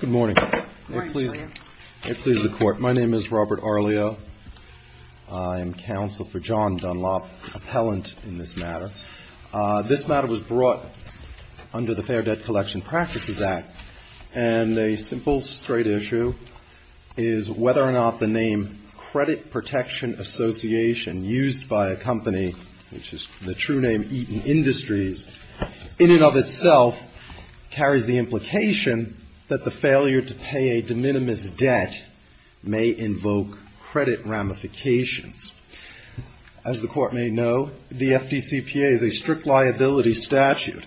Good morning. Good morning, William. May it please the Court, my name is Robert Arleo. I am counsel for John Dunlap, appellant in this matter. This matter was brought under the Fair Debt Collection Practices Act, and a simple, straight issue is whether or not the name Credit Protection Association, used by a company which is the true name Eaton Industries, in and of itself carries the implication that the failure to pay a de minimis debt may invoke credit ramifications. As the Court may know, the FDCPA is a strict liability statute.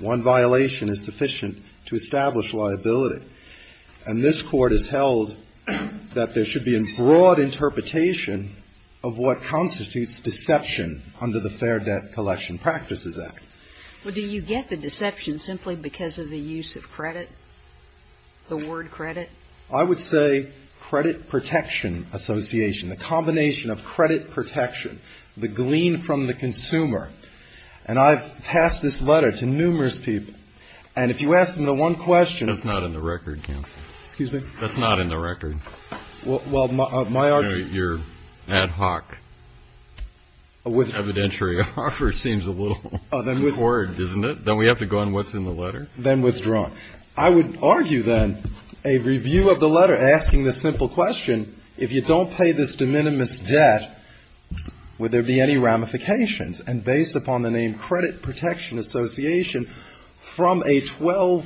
One violation is sufficient to establish liability, and this Court has held that there should be a broad interpretation of what constitutes deception under the Fair Debt Collection Practices Act. Well, do you get the deception simply because of the use of credit, the word credit? I would say Credit Protection Association, the combination of credit protection, the glean from the consumer. And I've passed this letter to numerous people, and if you ask them the one question That's not in the record, counsel. Excuse me? That's not in the record. Well, my argument You know, your ad hoc evidentiary offer seems a little Oh, then withdraw. Accord, isn't it? Then we have to go on what's in the letter? Then withdraw. I would argue, then, a review of the letter asking the simple question, if you don't pay this de minimis debt, would there be any ramifications? And based upon the name Credit Protection Association, from a 12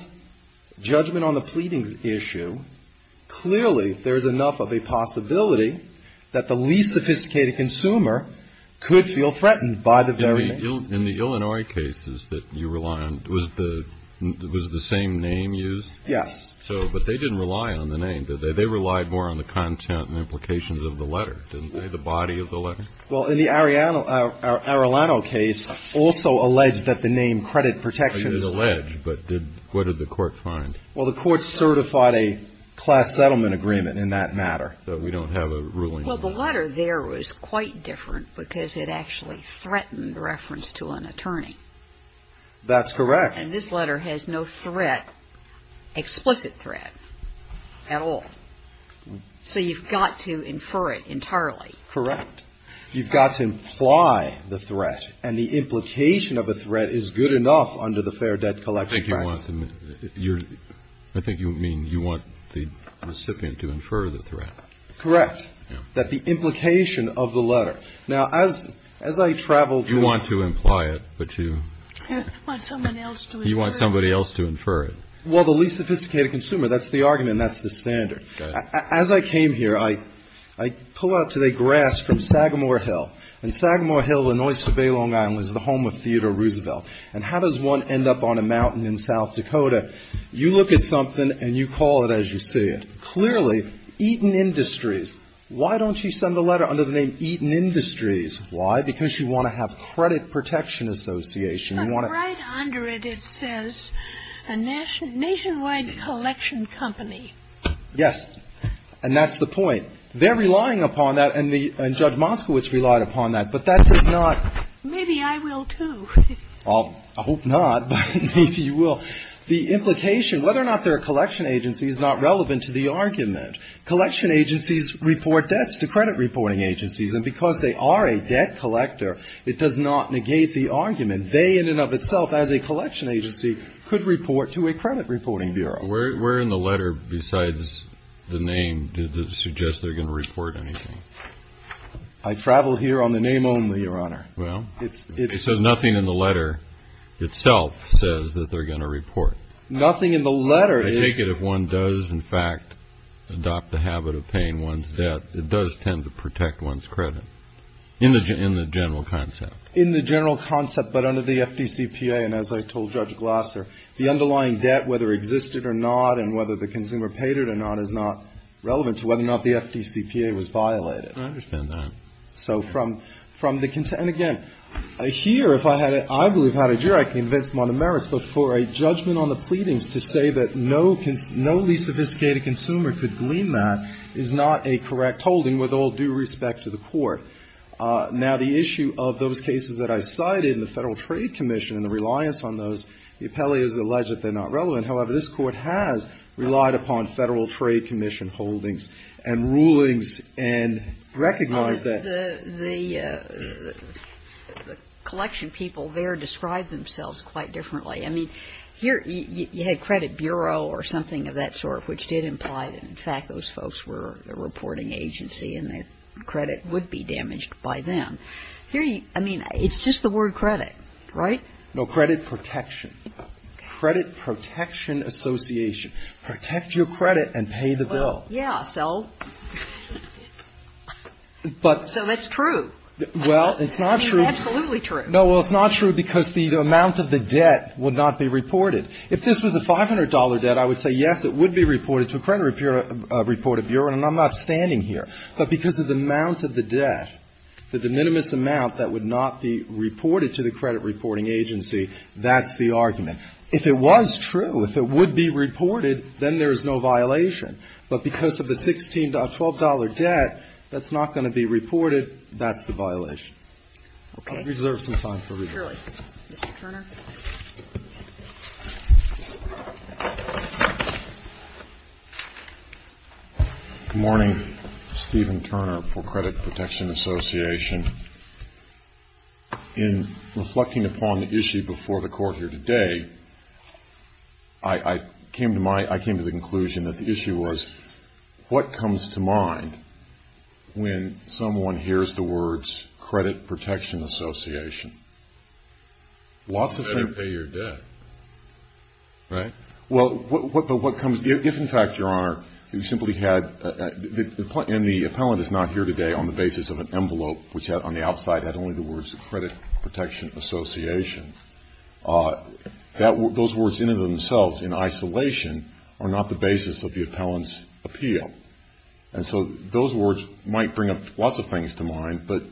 judgment on the pleadings issue, clearly there is enough of a possibility that the least sophisticated consumer could feel threatened by the very name. In the Illinois cases that you rely on, was the same name used? Yes. So, but they didn't rely on the name, did they? They relied more on the content and implications of the letter, didn't they, the body of the letter? Well, in the Arellano case, also alleged that the name Credit Protection Association Was alleged, but what did the court find? Well, the court certified a class settlement agreement in that matter. But we don't have a ruling. Well, the letter there was quite different because it actually threatened reference to an attorney. That's correct. And this letter has no threat, explicit threat, at all. So you've got to infer it entirely. Correct. You've got to imply the threat, and the implication of a threat is good enough under the Fair Debt Collection Act. I think you mean you want the recipient to infer the threat. Correct. That the implication of the letter. Now, as I traveled to You want to imply it, but you Want someone else to infer it. You want somebody else to infer it. Well, the least sophisticated consumer, that's the argument, and that's the standard. As I came here, I pull out today grass from Sagamore Hill. And Sagamore Hill, Illinois, is the home of Theodore Roosevelt. And how does one end up on a mountain in South Dakota? You look at something, and you call it as you see it. Clearly, Eaton Industries. Why don't you send the letter under the name Eaton Industries? Why? Because you want to have Credit Protection Association. But right under it, it says a nationwide collection company. Yes. And that's the point. They're relying upon that, and Judge Moskowitz relied upon that. But that does not Maybe I will, too. Well, I hope not, but maybe you will. The implication, whether or not they're a collection agency, is not relevant to the argument. Collection agencies report debts to credit reporting agencies. And because they are a debt collector, it does not negate the argument. They, in and of itself, as a collection agency, could report to a credit reporting bureau. Where in the letter, besides the name, does it suggest they're going to report anything? I travel here on the name only, Your Honor. Well. So nothing in the letter itself says that they're going to report. Nothing in the letter is I take it if one does, in fact, adopt the habit of paying one's debt, it does tend to protect one's credit. In the general concept. In the general concept, but under the FDCPA, and as I told Judge Glasser, the underlying debt, whether it existed or not, and whether the consumer paid it or not, is not relevant to whether or not the FDCPA was violated. I understand that. So from the, and again, here, if I had, I believe, had a juror, I can convince them on the merits. But for a judgment on the pleadings to say that no least sophisticated consumer could glean that is not a correct holding with all due respect to the Court. Now, the issue of those cases that I cited in the Federal Trade Commission and the reliance on those, the appellee has alleged that they're not relevant. However, this Court has relied upon Federal Trade Commission holdings and rulings and recognized that the collection people there describe themselves quite differently. I mean, here you had Credit Bureau or something of that sort, which did imply that, in fact, those folks were a reporting agency and that credit would be damaged by them. Here, I mean, it's just the word credit, right? No, credit protection. Credit Protection Association. Protect your credit and pay the bill. Well, yeah, so. But. So it's true. Well, it's not true. I mean, it's absolutely true. No, well, it's not true because the amount of the debt would not be reported. If this was a $500 debt, I would say, yes, it would be reported to a credit reported bureau, and I'm not standing here. But because of the amount of the debt, the de minimis amount that would not be reported to the credit reporting agency, that's the argument. If it was true, if it would be reported, then there is no violation. But because of the $12 debt that's not going to be reported, that's the violation. Okay. Reserve some time for reading. Surely. Mr. Turner. Good morning. Stephen Turner for Credit Protection Association. In reflecting upon the issue before the Court here today, I came to my, I came to the conclusion that the issue was, what comes to mind when someone hears the words Credit Protection Association? You better pay your debt. Right? Well, but what comes, if in fact, Your Honor, you simply had, and the appellant is not here today on the basis of an envelope which on the outside had only the words Credit Protection Association. Those words in and of themselves in isolation are not the basis of the appellant's appeal. And so those words might bring up lots of things to mind, but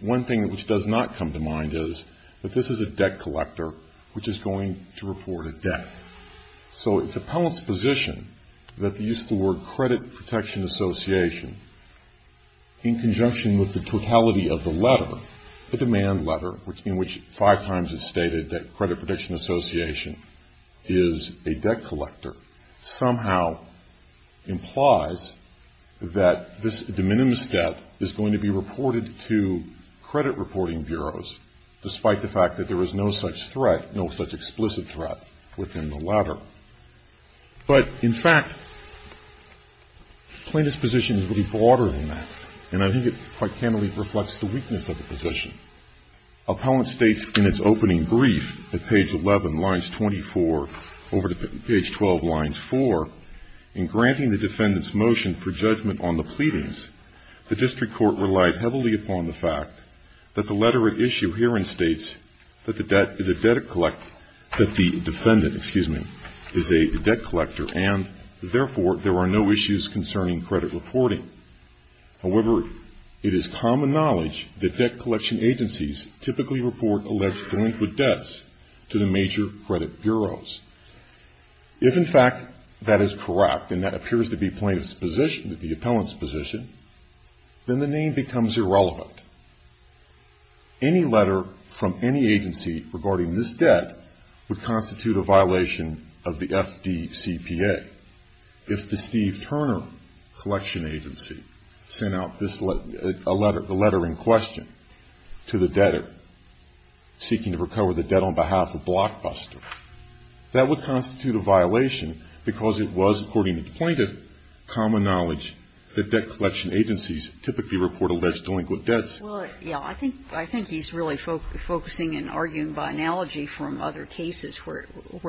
one thing which does not come to mind is that this is a debt collector which is going to report a debt. So it's appellant's position that the use of the word Credit Protection Association in conjunction with the totality of the letter, the demand letter, in which five times it stated that Credit Protection Association is a debt collector, somehow implies that this de minimis debt is going to be reported to credit reporting bureaus, despite the fact that there is no such threat, no such explicit threat within the letter. But in fact, plaintiff's position is really broader than that, and I think it quite candidly reflects the weakness of the position. Appellant states in its opening brief at page 11, lines 24, over to page 12, lines 4, in granting the defendant's motion for judgment on the pleadings, the district court relied heavily upon the fact that the letter at issue herein states that the debt is a debt collector, that the defendant, excuse me, is a debt collector, and therefore there are no issues concerning credit reporting. However, it is common knowledge that debt collection agencies typically report alleged joint with debts to the major credit bureaus. If in fact that is correct, and that appears to be plaintiff's position, the appellant's position, then the name becomes irrelevant. Any letter from any agency regarding this debt would constitute a violation of the FDCPA. If the Steve Turner Collection Agency sent out this letter, a letter in question to the debtor seeking to recover the debt on behalf of Blockbuster, that would constitute a violation because it was, according to the plaintiff, common knowledge that debt collection agencies typically report alleged joint with debts. Well, yeah. I think he's really focusing and arguing by analogy from other cases where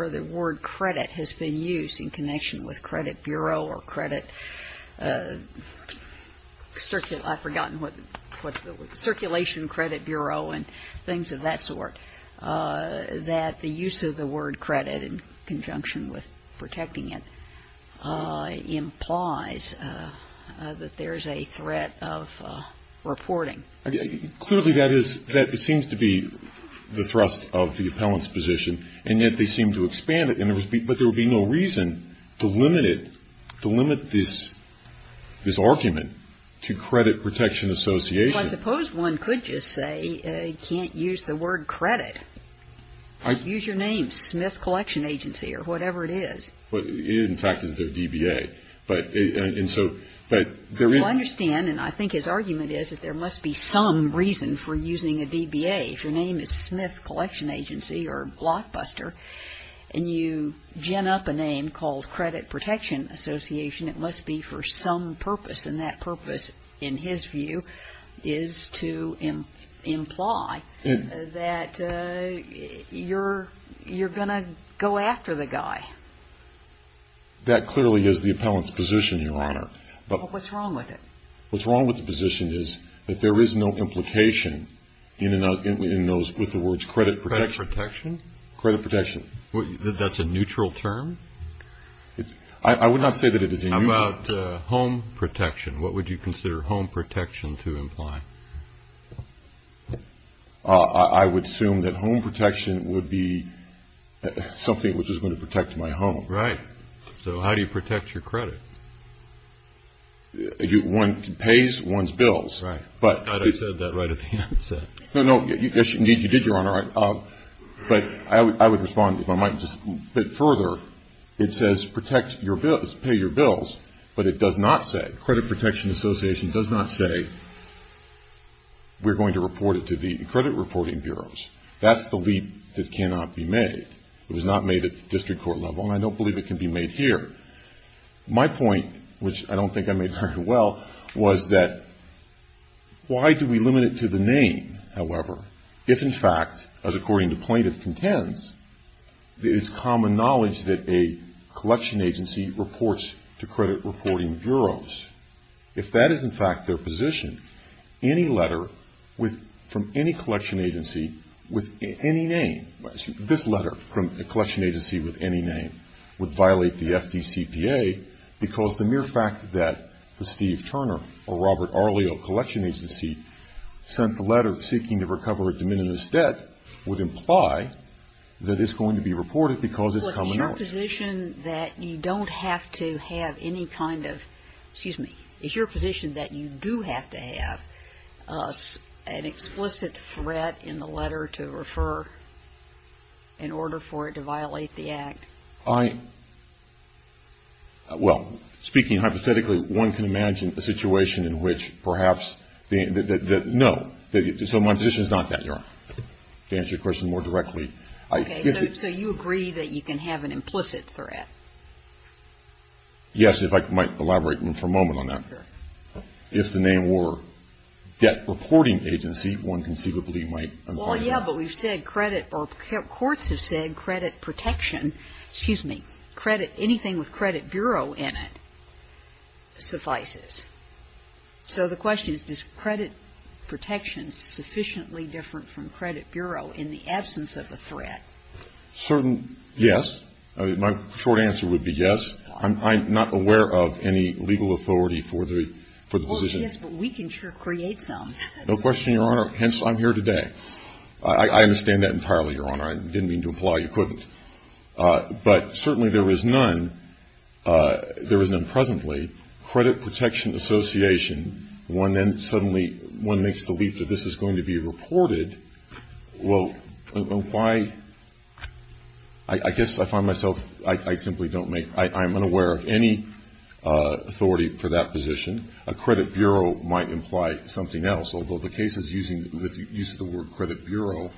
the word credit has been used in connection with credit bureau or credit, I've forgotten what the word, circulation credit bureau and things of that sort, that the use of the word credit in conjunction with protecting it implies that there's a threat of reporting. Clearly that is, that it seems to be the thrust of the appellant's position, and yet they seem to expand it, but there would be no reason to limit it, to limit this argument to credit protection association. Well, I suppose one could just say you can't use the word credit. Use your name, Smith Collection Agency, or whatever it is. It in fact is their DBA. Well, I understand, and I think his argument is that there must be some reason for using a DBA. If your name is Smith Collection Agency or Blockbuster, and you gin up a name called credit protection association, it must be for some purpose, and that purpose, in his view, is to imply that you're going to go after the guy. That clearly is the appellant's position, Your Honor. What's wrong with it? What's wrong with the position is that there is no implication in those, with the words credit protection. Credit protection? Credit protection. That's a neutral term? I would not say that it is a neutral term. How about home protection? What would you consider home protection to imply? I would assume that home protection would be something which is going to protect my home. Right. So how do you protect your credit? One pays one's bills. Right. I thought I said that right at the outset. No, no. Yes, indeed you did, Your Honor. But I would respond, if I might, just a bit further. It says protect your bills, pay your bills, but it does not say, credit protection association does not say, we're going to report it to the credit reporting bureaus. That's the leap that cannot be made. It was not made at the district court level, and I don't believe it can be made here. My point, which I don't think I made very well, was that why do we limit it to the name, however, if in fact, as according to plaintiff contends, it is common knowledge that a collection agency reports to credit reporting bureaus. If that is in fact their position, any letter from any collection agency with any name, this letter from a collection agency with any name would violate the FDCPA because the mere fact that the Steve Turner or Robert Arleo collection agency sent the letter seeking to recover a de minimis debt would imply that it's going to be reported because it's common knowledge. Well, is your position that you don't have to have any kind of, excuse me, is your position that you do have to have an implicit threat in order for it to violate the act? I, well, speaking hypothetically, one can imagine a situation in which perhaps, no. So my position is not that. To answer your question more directly. So you agree that you can have an implicit threat? Yes, if I might elaborate for a moment on that. If the name were debt reporting agency, one conceivably might. Well, yeah, but we've said credit, or courts have said credit protection, excuse me, credit, anything with credit bureau in it suffices. So the question is, is credit protection sufficiently different from credit bureau in the absence of a threat? Certain, yes. My short answer would be yes. I'm not aware of any legal authority for the position. Well, yes, but we can sure create some. No question, Your Honor, hence I'm here today. I understand that entirely, Your Honor. I didn't mean to imply you couldn't. But certainly there is none, there is none presently. Credit protection association, one then suddenly, one makes the leap that this is going to be reported. Well, why, I guess I find myself, I simply don't make, I'm unaware of any authority for that position. A credit bureau might imply something else, although the cases using the word credit bureau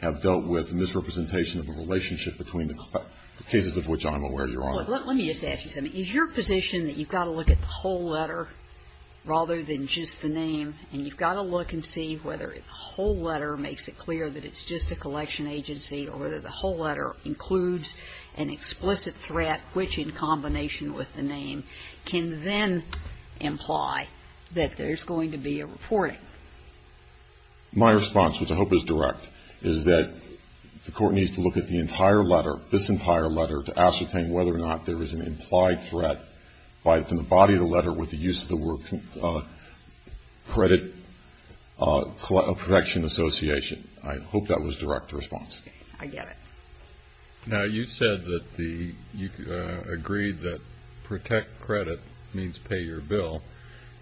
have dealt with misrepresentation of a relationship between the cases of which I'm aware, Your Honor. Well, let me just ask you something. Is your position that you've got to look at the whole letter rather than just the name, and you've got to look and see whether the whole letter makes it clear that it's just a collection agency or whether the whole letter includes an explicit threat which, in combination with the name, can then imply that there's going to be a reporting? My response, which I hope is direct, is that the Court needs to look at the entire letter, this entire letter, to ascertain whether or not there is an implied threat from the body of the letter with the use of the word credit protection association. I hope that was direct response. Okay. I get it. Now, you said that you agreed that protect credit means pay your bill,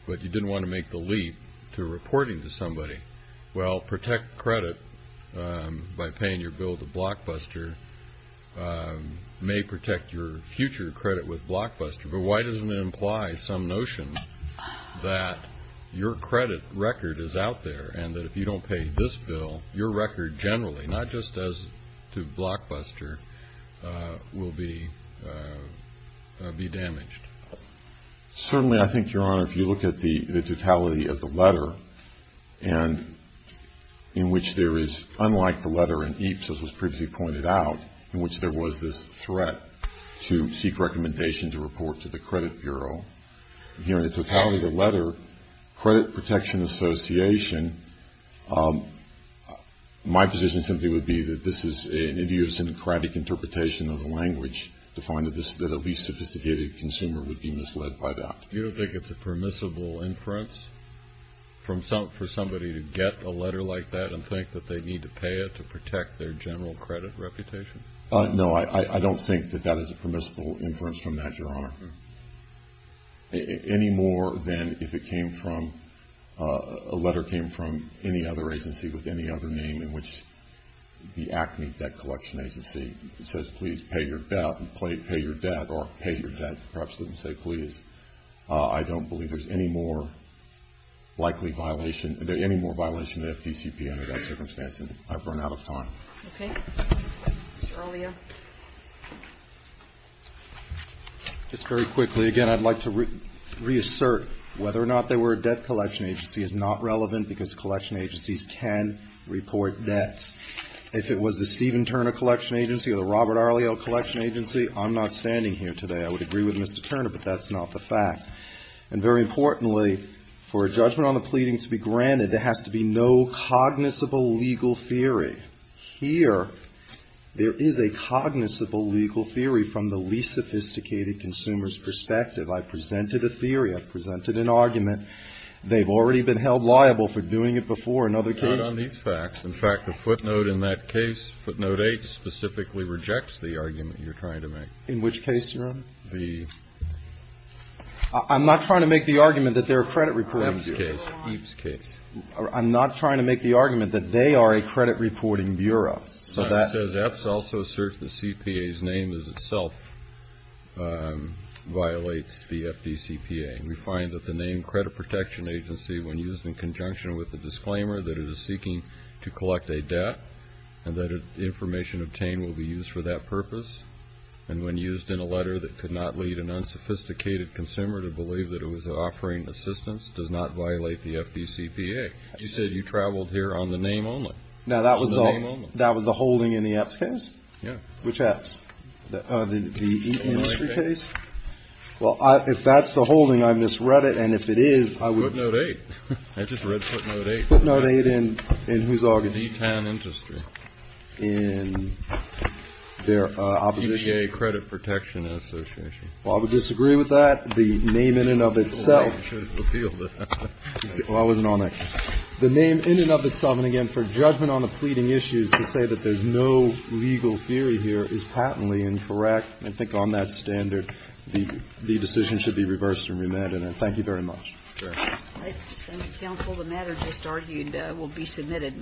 but you didn't want to make the leap to reporting to somebody. Well, protect credit by paying your bill to Blockbuster may protect your future credit with Blockbuster, but why doesn't it imply some notion that your credit record is out there and that if you don't pay this bill, your record generally, not just as to Blockbuster, will be damaged? Certainly, I think, Your Honor, if you look at the totality of the letter in which there is, unlike the letter in EAPS, as was previously pointed out, in which there was this threat to seek recommendation to report to the credit bureau, the totality of the letter, credit protection association, my position simply would be that this is an idiosyncratic interpretation of the language to find that a least sophisticated consumer would be misled by that. You don't think it's a permissible inference for somebody to get a letter like that and think that they need to pay it to protect their general credit reputation? No, I don't think that that is a permissible inference from that, Your Honor, any more than if it came from, a letter came from any other agency with any other name in which the ACME debt collection agency says, please pay your debt, pay your debt, or pay your debt, perhaps didn't say please. I don't believe there's any more likely violation, any more violation of FDCP under that circumstance, and I've run out of time. Okay. Mr. Alia. Just very quickly, again, I'd like to reassert whether or not there were a debt collection agency is not relevant because collection agencies can report debts. If it was the Stephen Turner Collection Agency or the Robert Arliel Collection Agency, I'm not standing here today. I would agree with Mr. Turner, but that's not the fact. And very importantly, for a judgment on the pleading to be granted, there has to be no cognizable legal theory. Here, there is a cognizable legal theory from the least sophisticated consumer's perspective. I presented a theory. I presented an argument. They've already been held liable for doing it before in other cases. Not on these facts. In fact, the footnote in that case, footnote 8, specifically rejects the argument you're trying to make. In which case, Your Honor? I'm not trying to make the argument that they're a credit reporting agency. EAPS case. EAPS case. I'm not trying to make the argument that they are a credit reporting bureau. EAPS also asserts the CPA's name as itself violates the FDCPA. We find that the name credit protection agency, when used in conjunction with the disclaimer that it is seeking to collect a debt and that information obtained will be used for that purpose, and when used in a letter that could not lead an unsophisticated consumer to believe that it was offering assistance, does not violate the FDCPA. You said you traveled here on the name only. On the name only. Now, that was the holding in the EAPS case? Yeah. Which EAPS? The industry case? Well, if that's the holding, I misread it, and if it is, I would. Footnote 8. I just read footnote 8. Footnote 8 in whose argument? D-Town Industry. In their opposition? EPA Credit Protection Association. Well, I would disagree with that. The name in and of itself. Well, I wasn't on it. The name in and of itself, and again, for judgment on the pleading issues to say that there's no legal theory here is patently incorrect. I think on that standard, the decision should be reversed and remanded. And thank you very much. Thank you. Thank you, counsel. The matter just argued will be submitted.